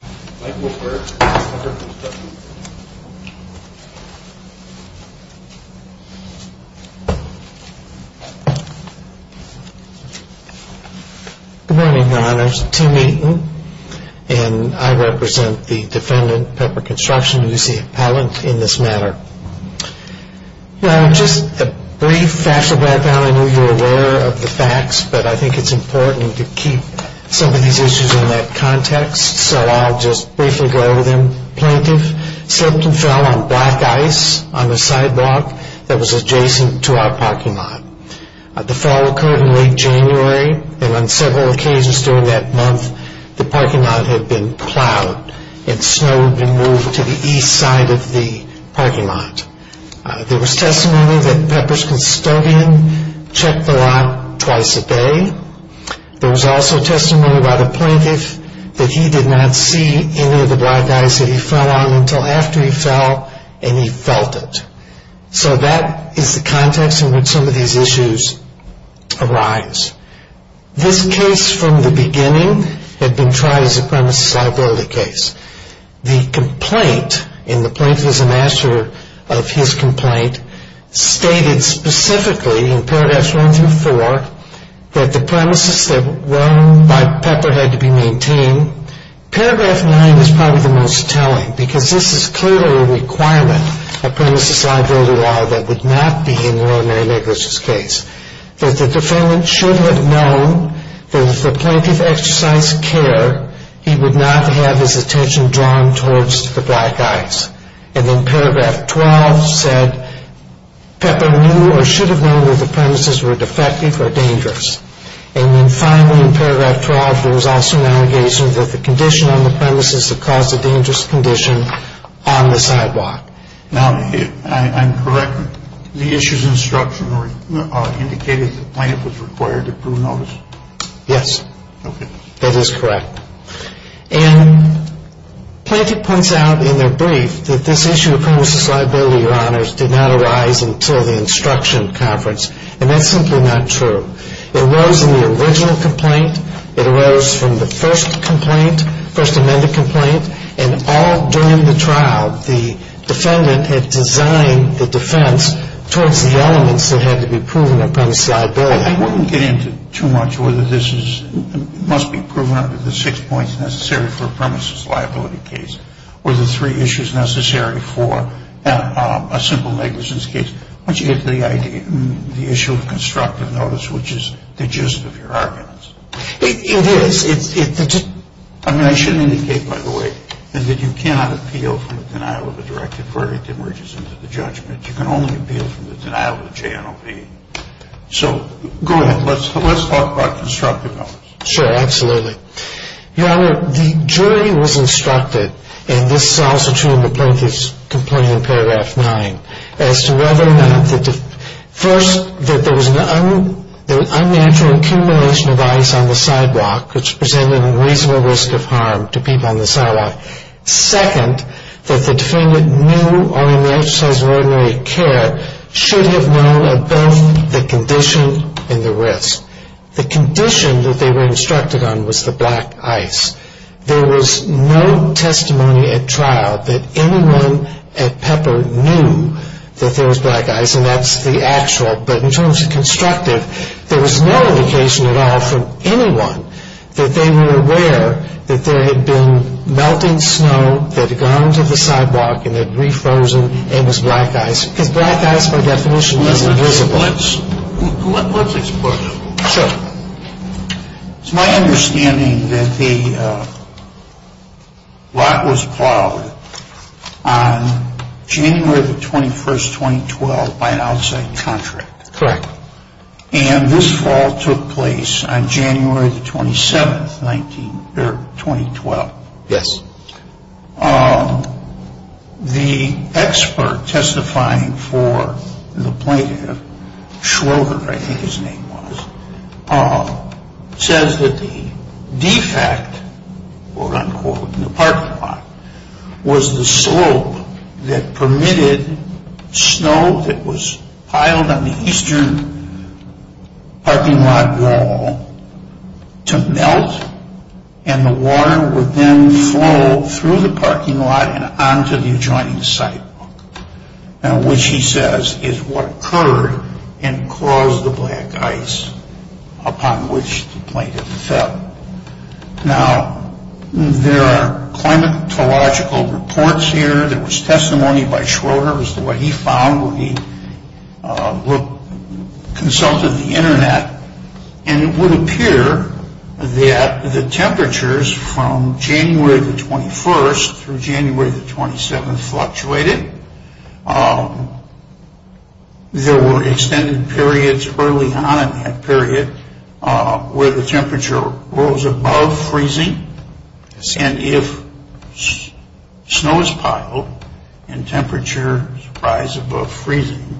Good morning, your honors. Tim Eaton, and I represent the defendant, Pepper Construction, who is the appellant in this matter. Well, just a brief fact of the matter, I know you're aware of the facts, but I think it's so I'll just briefly go over them. The plaintiff slipped and fell on black ice on the side block that was adjacent to our parking lot. The fall occurred in late January, and on several occasions during that month, the parking lot had been plowed, and snow had been moved to the east side of the parking lot. There was testimony that Pepper's custodian checked the lot twice a day. There was also testimony by the plaintiff that he did not see any of the black ice that he fell on until after he fell, and he felt it. So that is the context in which some of these issues arise. This case from the beginning had been tried as a premises liability case. The complaint, and the plaintiff is a master of his complaint, stated specifically in paragraphs one through four that the premises that were owned by Pepper had to be maintained. Paragraph nine is probably the most telling, because this is clearly a requirement, a premises liability law that would not be in the ordinary negligence case. That the defendant should have known that if the plaintiff exercised care, he would not have his attention drawn towards the black ice. And then paragraph 12 said Pepper knew or should have known that the premises were defective or dangerous. And then finally in paragraph 12, there was also an allegation that the condition on the premises had caused a dangerous condition on the sidewalk. Now, if I'm correct, the issue's instruction indicated that the plaintiff was required to prove notice? Yes. Okay. That is correct. And Plaintiff points out in their brief that this issue of premises liability, Your Honors, did not arise until the instruction conference. And that's simply not true. It arose in the original complaint. It arose from the first complaint, first amended complaint. And all during the trial, the defendant had designed the defense towards the elements that had to be proven on premises liability. Well, we won't get into too much whether this must be proven under the six points necessary for a premises liability case or the three issues necessary for a simple negligence case. I want you to get to the idea, the issue of constructive notice, which is the gist of your arguments. It is. I mean, I should indicate, by the way, that you cannot appeal from the denial of a directed So, go ahead. Let's talk about constructive notice. Sure. Absolutely. Your Honor, the jury was instructed, and this is also true in the plaintiff's complaint in paragraph nine, as to whether or not, first, that there was an unnatural accumulation of ice on the sidewalk, which presented a reasonable risk of harm to people on the sidewalk. Second, that the defendant knew or in the exercise of ordinary care should have known of both the condition and the risk. The condition that they were instructed on was the black ice. There was no testimony at trial that anyone at Pepper knew that there was black ice, and that's the actual. But in terms of constructive, there was no indication at all from anyone that they were aware that there had been melting snow that had gone to the sidewalk and had refrozen and was black ice, because black ice, by definition, is invisible. Let's explain. Sure. It's my understanding that the lot was plowed on January the 21st, 2012, by an outside contract. Correct. And this fall took place on January the 27th, 2012. Yes. The expert testifying for the plaintiff, Schroeder, I think his name was, says that the defect, quote unquote, in the parking lot, was the slope that permitted snow that was parking lot and onto the adjoining sidewalk, which he says is what occurred and caused the black ice upon which the plaintiff fell. Now, there are climatological reports here. There was testimony by Schroeder. It was the way he found when he consulted the Internet. And it would appear that the temperatures from January the 21st through January the 27th fluctuated. There were extended periods early on in that period where the temperature rose above freezing. Yes. And if snow is piled and temperatures rise above freezing,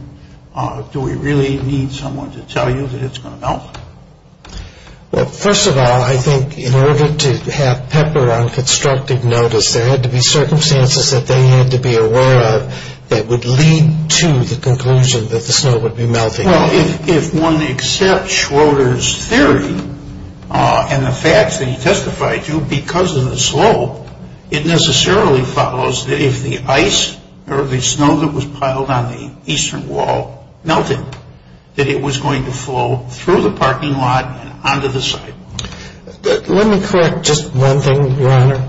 do we really need someone Well, first of all, I think in order to have Pepper on constructive notice, there had to be circumstances that they had to be aware of that would lead to the conclusion that the snow would be melting. Well, if one accepts Schroeder's theory and the facts that he testified to because of the slope, it necessarily follows that if the ice or the snow that was piled on the parking lot and onto the sidewalk. Let me correct just one thing, Your Honor.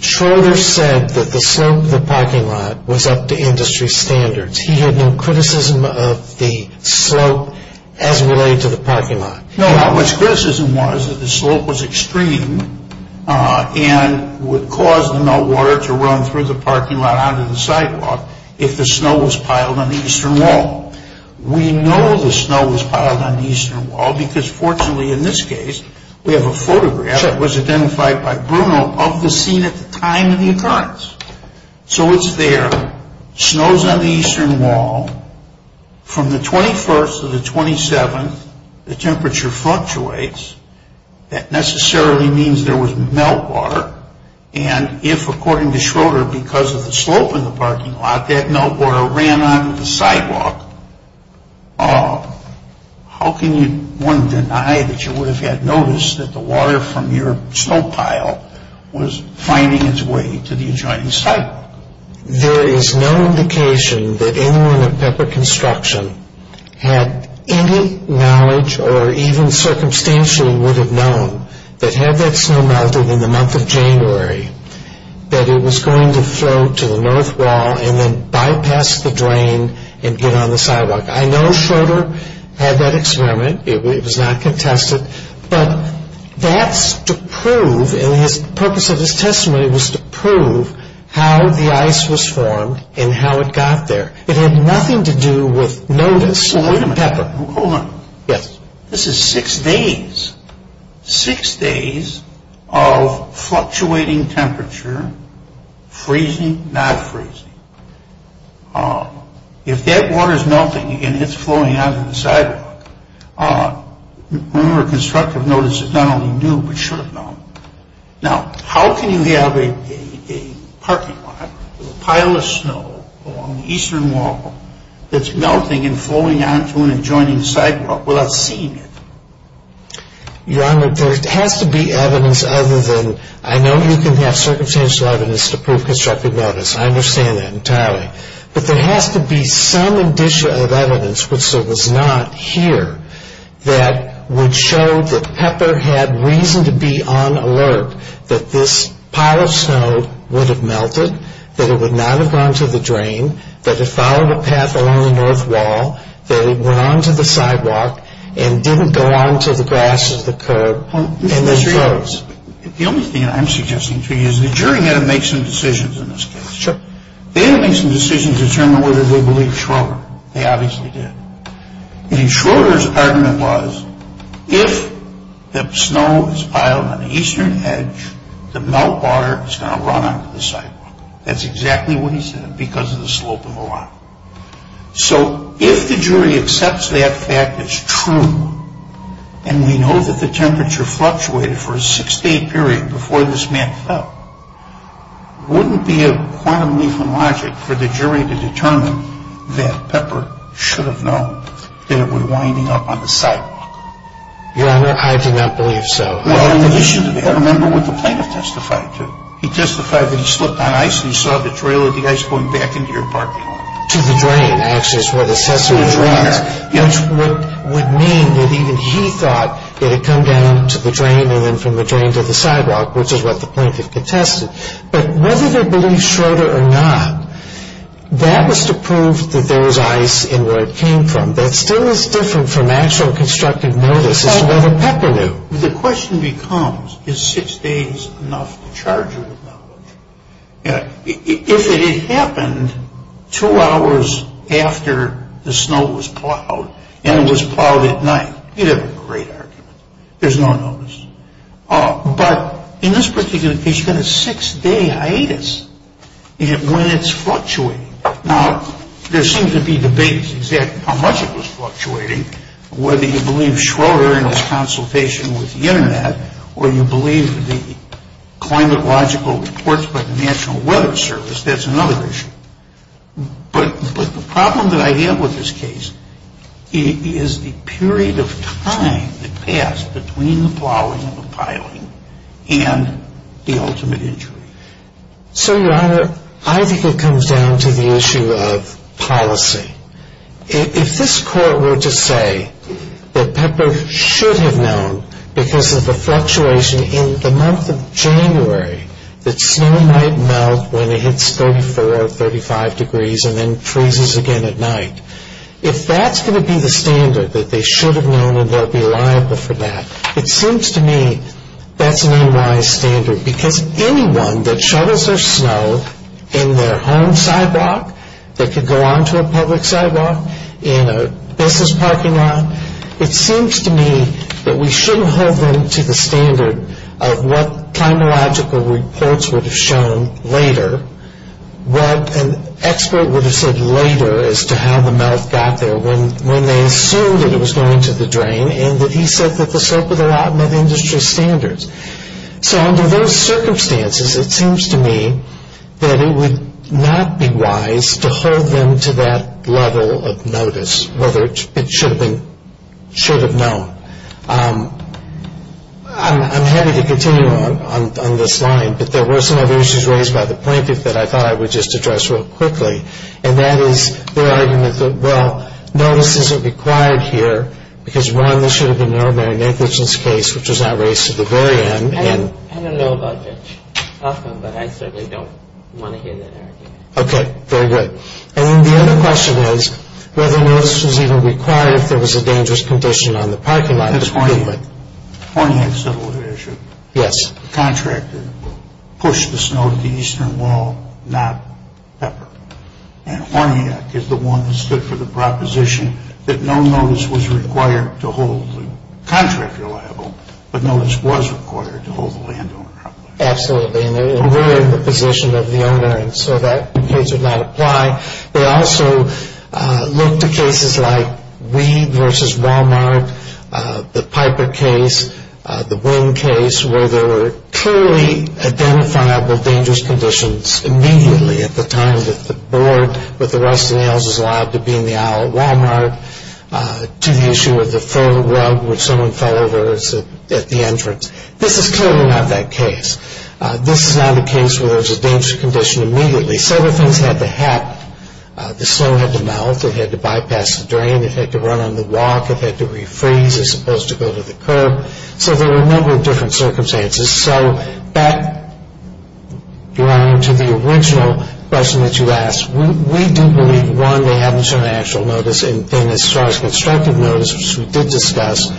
Schroeder said that the slope of the parking lot was up to industry standards. He had no criticism of the slope as related to the parking lot. No, his criticism was that the slope was extreme and would cause the meltwater to run through the parking lot and onto the sidewalk if the snow was piled on the eastern wall. We know the snow was piled on the eastern wall because fortunately in this case, we have a photograph that was identified by Bruno of the scene at the time of the occurrence. So it's there. Snow's on the eastern wall. From the 21st to the 27th, the temperature fluctuates. That necessarily means there was meltwater. And if, according to Schroeder, because of the How can one deny that you would have noticed that the water from your snow pile was finding its way to the adjoining sidewalk? There is no indication that anyone at Pepper Construction had any knowledge or even circumstantially would have known that had that snow melted in the month of January, that it was going to flow to the north wall and then bypass the drain and get on the sidewalk. I know Schroeder had that experiment. It was not contested. But that's to prove and the purpose of his testimony was to prove how the ice was formed and how it got there. It had nothing to do with notice or Pepper. Hold on. This is six days. Six days of fluctuating temperature, freezing, not freezing. If that water is melting and it's flowing out of the sidewalk, remember constructive notice is not only new but should have known. Now, how can you have a parking lot with a pile of snow along the eastern wall that's melting and flowing onto an adjoining sidewalk without seeing it? Your Honor, there has to be evidence other than I know you can have circumstantial evidence to prove it entirely. But there has to be some indicia of evidence, which there was not here, that would show that Pepper had reason to be on alert that this pile of snow would have melted, that it would not have gone to the drain, that it followed a path along the north wall, that it went onto the sidewalk and didn't go onto the grass of the curb and then froze. The only thing I'm suggesting to you is the jury had to make some decisions in this case. They had to make some decisions to determine whether they believed Schroeder. They obviously did. Schroeder's argument was if the snow is piled on the eastern edge, the melt water is going to run onto the sidewalk. That's exactly what he said because of the slope of the law. So if the jury accepts that fact as true, and we know that the temperature fluctuated for a six-day period before this man fell, wouldn't it be a quantum leap in logic for the jury to determine that Pepper should have known that it was winding up on the sidewalk? Your Honor, I do not believe so. Well, in addition to that, remember what the plaintiff testified to. He testified that he slipped on ice and saw the trail of the ice going back into your parking lot. To the drain, actually, is what the assessment was. Which would mean that even he thought it had come down to the drain and then from the drain to the sidewalk, which is what the plaintiff contested. But whether they believed Schroeder or not, that was to prove that there was ice and where it came from. That still is different from actual constructive notice as to whether Pepper knew. The question becomes, is six days enough to charge her with knowledge? If it had happened two hours after the snow was plowed and it was plowed at night, you'd have a great argument. There's no notice. But in this particular case, you've got a six-day hiatus when it's fluctuating. Now, there seems to be debate as to exactly how much it was fluctuating, whether you believe Schroeder in his consultation with the Internet or you believe the climatological reports by the National Weather Service. That's another issue. But the problem that I have with this case is the period of time that passed between the plowing and the piling and the ultimate injury. So, Your Honor, I think it comes down to the issue of policy. If this Court were to say that Pepper should have known because of the fluctuation in the month of January that snow might melt when it hits 34, 35 degrees and then freezes again at night, if that's going to be the standard that they should have known and they'll be liable for that, it seems to me that's an unwise standard because anyone that shovels their snow in their home sidewalk that could go onto a public sidewalk, in a business parking lot, it seems to me that we shouldn't hold them to the standard of what climatological reports would have shown later, what an expert would have said later as to how the melt got there when they assumed that it was going to the drain and that he said that the slope of the lot met industry standards. So under those circumstances, it seems to me that it would not be wise to hold them to that level of notice, whether it should have been, should have known. I'm happy to continue on this line, but there were some other issues raised by the plaintiff that I thought I would just address real quickly, and that is their argument that, well, notice isn't required here because, one, there should have been no bearing negligence case, which was not raised to the very end. I don't know about Mitch Huffman, but I certainly don't want to hear that argument. Okay, very good. And the other question is whether notice was even required if there was a dangerous condition on the parking lot. That's Horniak. Horniak settled the issue. Yes. The contractor pushed the snow to the eastern wall, not Pepper. And Horniak is the one who stood for the proposition that no notice was required to hold the contractor liable, but notice was required to hold the landowner liable. Absolutely, and they were in the position of the owner, and so that case would not apply. They also looked at cases like Weed v. Walmart, the Piper case, the Wing case, where there were clearly identifiable dangerous conditions immediately at the time that the board, with the rest of the houses allowed to be in the aisle at Walmart, to the issue of the faux rug which someone fell over at the entrance. This is clearly not that case. This is not a case where there was a dangerous condition immediately. Several things had to happen. The snow had to melt. It had to bypass the drain. It had to run on the walk. It had to refreeze as opposed to go to the curb. So there were a number of different circumstances. So back, Your Honor, to the original question that you asked. We do believe, one, they haven't shown actual notice, and then as far as constructive notice, which we did discuss,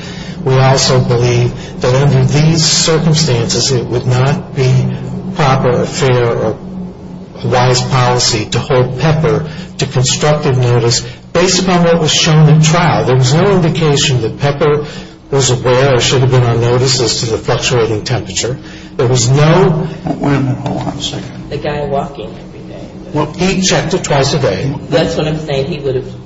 we also believe that under these circumstances, it would not be proper or fair or wise policy to hold Pepper to constructive notice based upon what was shown at trial. There was no indication that Pepper was aware or should have been on notice as to the fluctuating temperature. There was no... Wait a minute. Hold on a second. The guy walking every day. He checked it twice a day. That's what I'm saying. He would have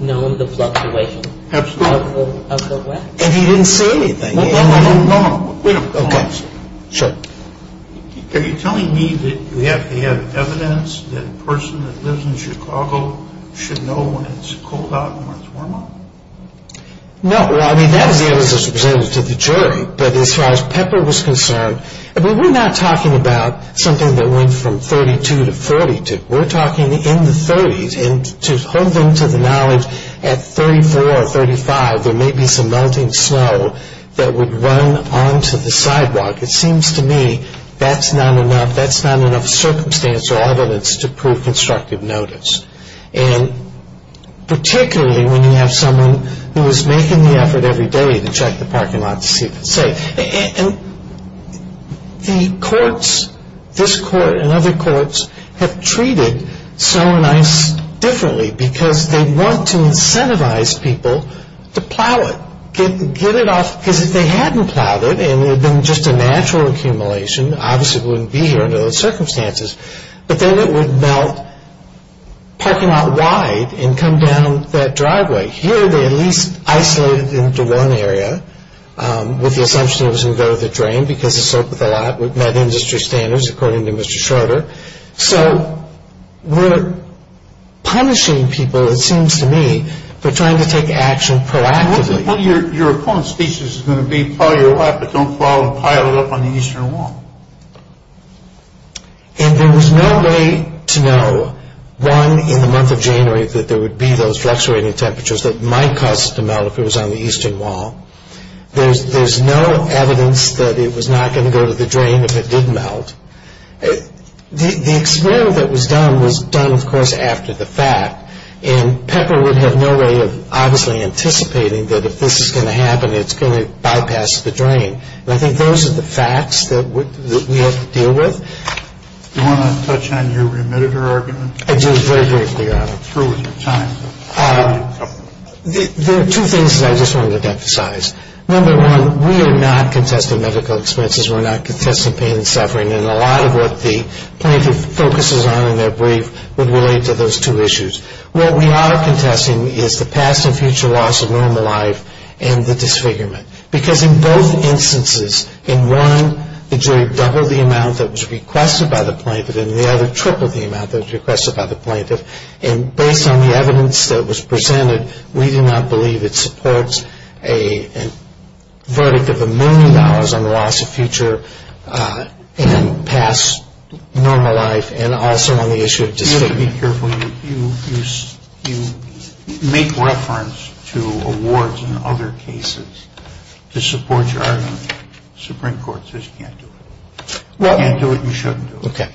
known the fluctuation of the wet. Absolutely. And he didn't see anything. No, no, no. Wait a minute. Okay. Sure. Are you telling me that you have evidence that a person that lives in Chicago should know when it's cold out and when it's warm out? No. Well, I mean, that is the evidence that's presented to the jury. But as far as Pepper was concerned, I mean, we're not talking about something that went from 32 to 42. We're talking in the 30s, and to hold them to the knowledge, at 34 or 35, there may be some melting snow that would run onto the sidewalk. It seems to me that's not enough. to prove constructive notice, and particularly when you have someone who is making the effort every day to check the parking lot to see if it's safe. And the courts, this court and other courts, have treated snow and ice differently because they want to incentivize people to plow it, get it off. Because if they hadn't plowed it and it had been just a natural accumulation, obviously it wouldn't be here under those circumstances. But then it would melt parking lot wide and come down that driveway. Here they at least isolated it into one area with the assumption it was going to go to the drain because it's soaked with a lot. We've met industry standards, according to Mr. Schroeder. So we're punishing people, it seems to me, for trying to take action proactively. Well, your opponent's speech is going to be, plow your lot but don't plow and pile it up on the eastern wall. And there was no way to know, one, in the month of January, that there would be those fluctuating temperatures that might cause it to melt if it was on the eastern wall. There's no evidence that it was not going to go to the drain if it did melt. The experiment that was done was done, of course, after the fact. And Pepper would have no way of obviously anticipating that if this is going to happen, it's going to bypass the drain. And I think those are the facts that we have to deal with. Do you want to touch on your remitter argument? I do, very briefly, Your Honor. I'm through with your time. There are two things that I just wanted to emphasize. Number one, we are not contesting medical expenses. We're not contesting pain and suffering. And a lot of what the plaintiff focuses on in their brief would relate to those two issues. What we are contesting is the past and future loss of normal life and the disfigurement. Because in both instances, in one, the jury doubled the amount that was requested by the plaintiff, and in the other, tripled the amount that was requested by the plaintiff. And based on the evidence that was presented, we do not believe it supports a verdict of a million dollars on the loss of future and past normal life and also on the issue of disfigurement. You have to be careful. You make reference to awards in other cases to support your argument. The Supreme Court says you can't do it. You can't do it and you shouldn't do it. Okay.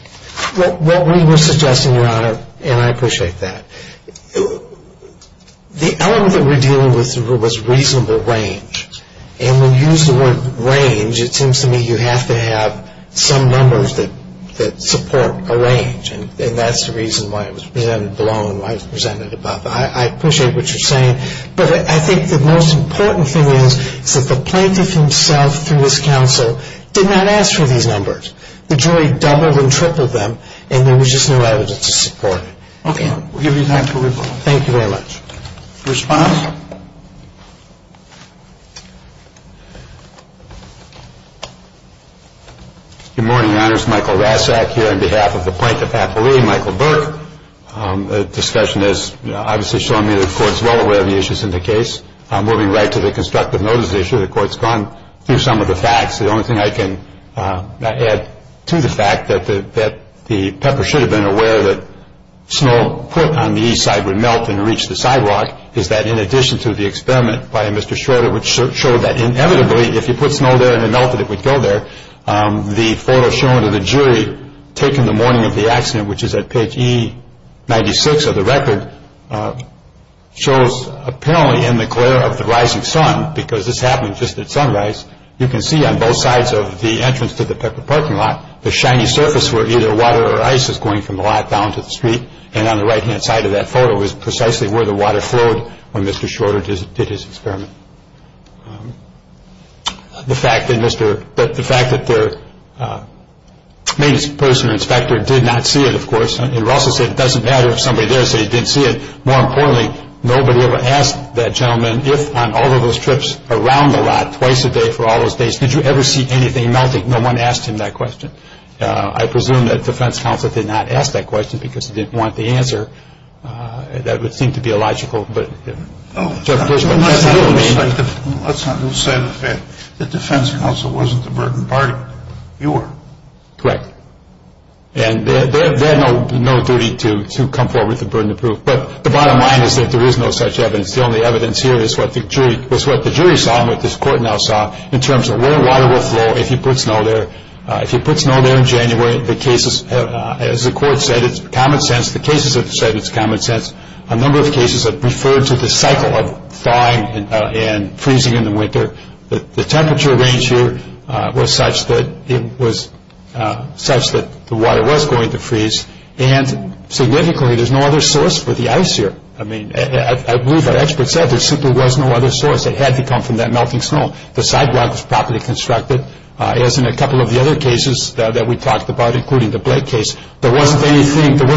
What we were suggesting, Your Honor, and I appreciate that, the element that we're dealing with was reasonable range. And when you use the word range, it seems to me you have to have some numbers that support a range. And that's the reason why it was presented below and why it was presented above. I appreciate what you're saying. But I think the most important thing is that the plaintiff himself through his counsel did not ask for these numbers. The jury doubled and tripled them, and there was just no evidence to support it. Okay. We'll give you time for rebuttal. Thank you very much. Response? Good morning, Your Honors. Michael Rasak here on behalf of the plaintiff's affilee, Michael Burke. The discussion has obviously shown me the Court's well aware of the issues in the case. The only thing I can add to the fact that the pepper should have been aware that snow put on the east side would melt and reach the sidewalk, is that in addition to the experiment by Mr. Schroeder, which showed that inevitably, if you put snow there and it melted, it would go there. The photo shown of the jury taking the morning of the accident, which is at page E96 of the record, shows apparently in the glare of the rising sun, because this happened just at sunrise. You can see on both sides of the entrance to the pepper parking lot, the shiny surface where either water or ice is going from the lot down to the street, and on the right-hand side of that photo is precisely where the water flowed when Mr. Schroeder did his experiment. The fact that their main person, inspector, did not see it, of course, and Russell said it doesn't matter if somebody there said he didn't see it. More importantly, nobody ever asked that gentleman, if on all of those trips around the lot twice a day for all those days, did you ever see anything melting? No one asked him that question. I presume that defense counsel did not ask that question because he didn't want the answer. That would seem to be illogical. Let's not lose sight of that. The defense counsel wasn't the burdened party. You were. Correct. They had no duty to come forward with a burden of proof, but the bottom line is that there is no such evidence. The only evidence here is what the jury saw and what this court now saw in terms of where water will flow if you put snow there. If you put snow there in January, the cases, as the court said, it's common sense. The cases have said it's common sense. A number of cases have referred to the cycle of thawing and freezing in the winter. The temperature range here was such that the water was going to freeze, and significantly there's no other source for the ice here. I believe our experts said there simply was no other source. It had to come from that melting snow. The sidewalk was properly constructed, as in a couple of the other cases that we talked about, including the Blake case. There was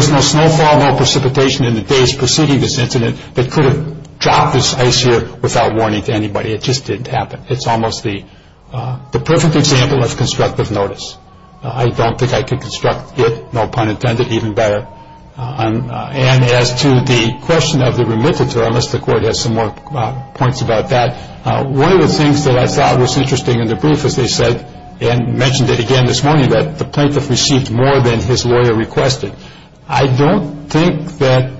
no snowfall, no precipitation in the days preceding this incident that could have dropped this ice here without warning to anybody. It just didn't happen. It's almost the perfect example of constructive notice. I don't think I could construct it, no pun intended, even better. And as to the question of the remitted term, as the court has some more points about that, one of the things that I thought was interesting in the brief, as they said and mentioned it again this morning, that the plaintiff received more than his lawyer requested. I don't think that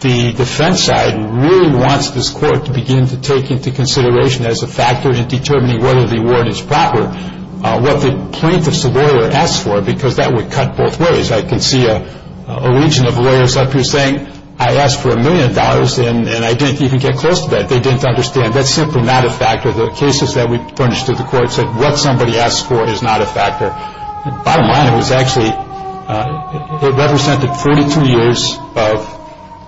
the defense side really wants this court to begin to take into consideration, as a factor in determining whether the award is proper, what the plaintiff's lawyer asked for, because that would cut both ways. I can see a region of lawyers up here saying, I asked for a million dollars and I didn't even get close to that. They didn't understand. That's simply not a factor. The cases that we furnished to the court said what somebody asked for is not a factor. Bottom line, it represented 42 years of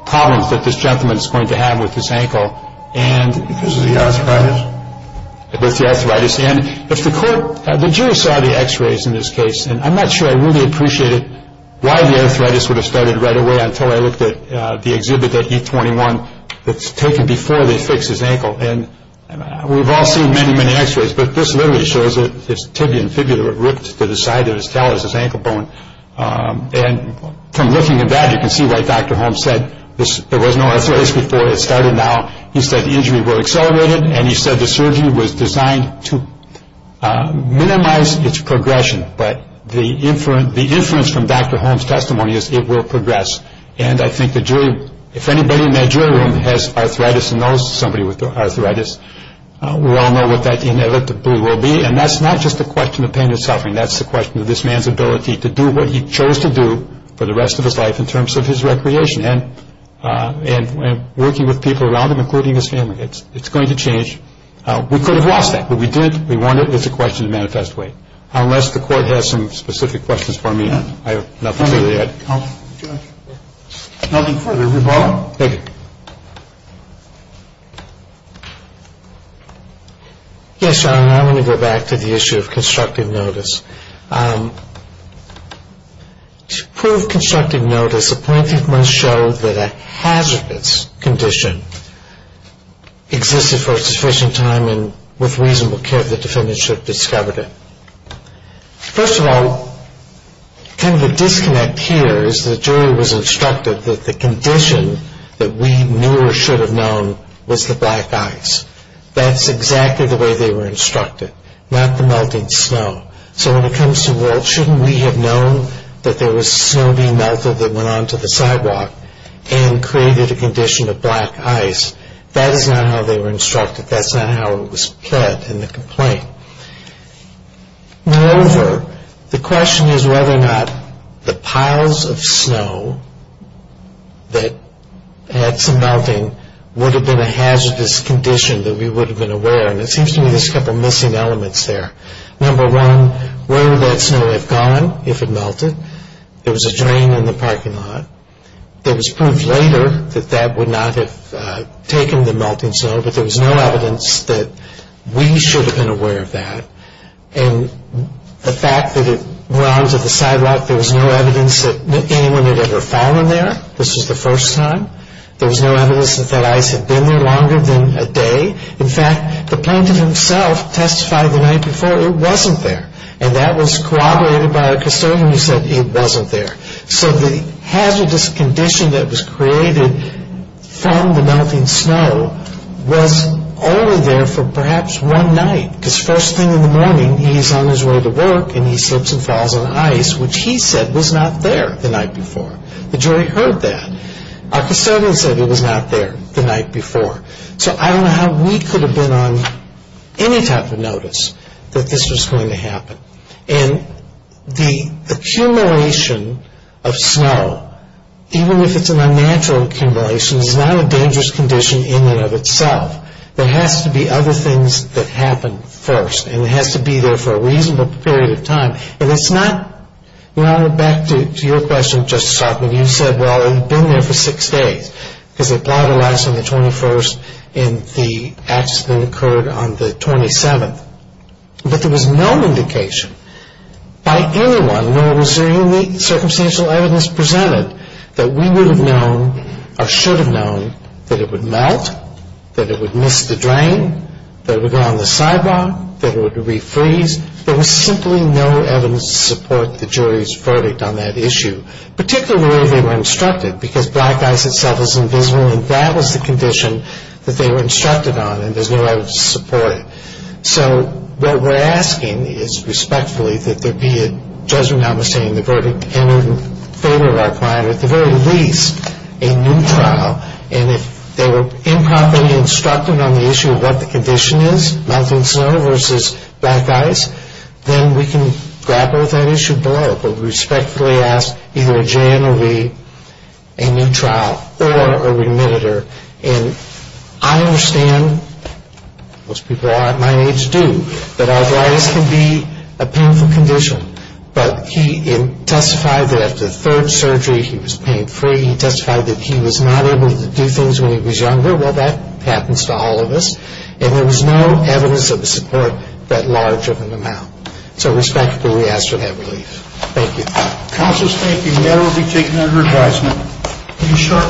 problems that this gentleman is going to have with his ankle. Because of the arthritis? Because of the arthritis. The jury saw the x-rays in this case. I'm not sure I really appreciated why the arthritis would have started right away until I looked at the exhibit at E21 that's taken before they fixed his ankle. We've all seen many, many x-rays, but this literally shows that his tibia and fibula were ripped to the side of his tail as his ankle bone. And from looking at that, you can see why Dr. Holmes said there was no arthritis before. It started now. He said the injury will accelerate it. And he said the surgery was designed to minimize its progression. But the inference from Dr. Holmes' testimony is it will progress. And I think the jury, if anybody in that jury room has arthritis and knows somebody with arthritis, we all know what that inevitably will be. And that's not just a question of pain and suffering. That's a question of this man's ability to do what he chose to do for the rest of his life in terms of his recreation and working with people around him, including his family. It's going to change. We could have lost that. But we did. We won it. It's a question of manifest way. Unless the court has some specific questions for me, I have nothing to add. Nothing further. Reba? Thank you. Yes, Your Honor. I want to go back to the issue of constructive notice. To prove constructive notice, a plaintiff must show that a hazardous condition existed for a sufficient time and with reasonable care that the defendant should have discovered it. First of all, kind of a disconnect here is the jury was instructed that the condition that we knew or should have known was the black ice. That's exactly the way they were instructed, not the melting snow. So when it comes to Walt, shouldn't we have known that there was snow being melted that went onto the sidewalk and created a condition of black ice? That is not how they were instructed. That's not how it was pled in the complaint. Moreover, the question is whether or not the piles of snow that had some melting would have been a hazardous condition that we would have been aware. And it seems to me there's a couple of missing elements there. Number one, where would that snow have gone if it melted? There was a drain in the parking lot. There was proof later that that would not have taken the melting snow, but there was no evidence that we should have been aware of that. And the fact that it went onto the sidewalk, there was no evidence that anyone had ever fallen there. This was the first time. There was no evidence that that ice had been there longer than a day. In fact, the plaintiff himself testified the night before it wasn't there, and that was corroborated by a custodian who said it wasn't there. So the hazardous condition that was created from the melting snow was only there for perhaps one night, because first thing in the morning he's on his way to work, and he slips and falls on ice, which he said was not there the night before. The jury heard that. Our custodian said it was not there the night before. So I don't know how we could have been on any type of notice that this was going to happen. And the accumulation of snow, even if it's an unnatural accumulation, is not a dangerous condition in and of itself. There has to be other things that happen first, and it has to be there for a reasonable period of time. And it's not, well, back to your question, Justice Altman. You said, well, it had been there for six days, because they plowed the ice on the 21st and the accident occurred on the 27th. But there was no indication by anyone, nor was there any circumstantial evidence presented, that we would have known or should have known that it would melt, that it would miss the drain, that it would go on the sidewalk, that it would refreeze. There was simply no evidence to support the jury's verdict on that issue, particularly the way they were instructed, because black ice itself is invisible, and that was the condition that they were instructed on, and there's no evidence to support it. So what we're asking is, respectfully, that there be a judgment, notwithstanding the verdict, in favor of our client, or at the very least, a new trial. And if they were improperly instructed on the issue of what the condition is, melting snow versus black ice, then we can grapple with that issue. But we respectfully ask either a J&OV, a new trial, or a remittitor. And I understand, most people at my age do, that arthritis can be a painful condition. But he testified that after the third surgery he was pain-free. He testified that he was not able to do things when he was younger. Well, that happens to all of us. And there was no evidence of a support that large of an amount. So respectfully, we ask for that relief. Thank you. Counsel's thank you. That will be taken under advisement.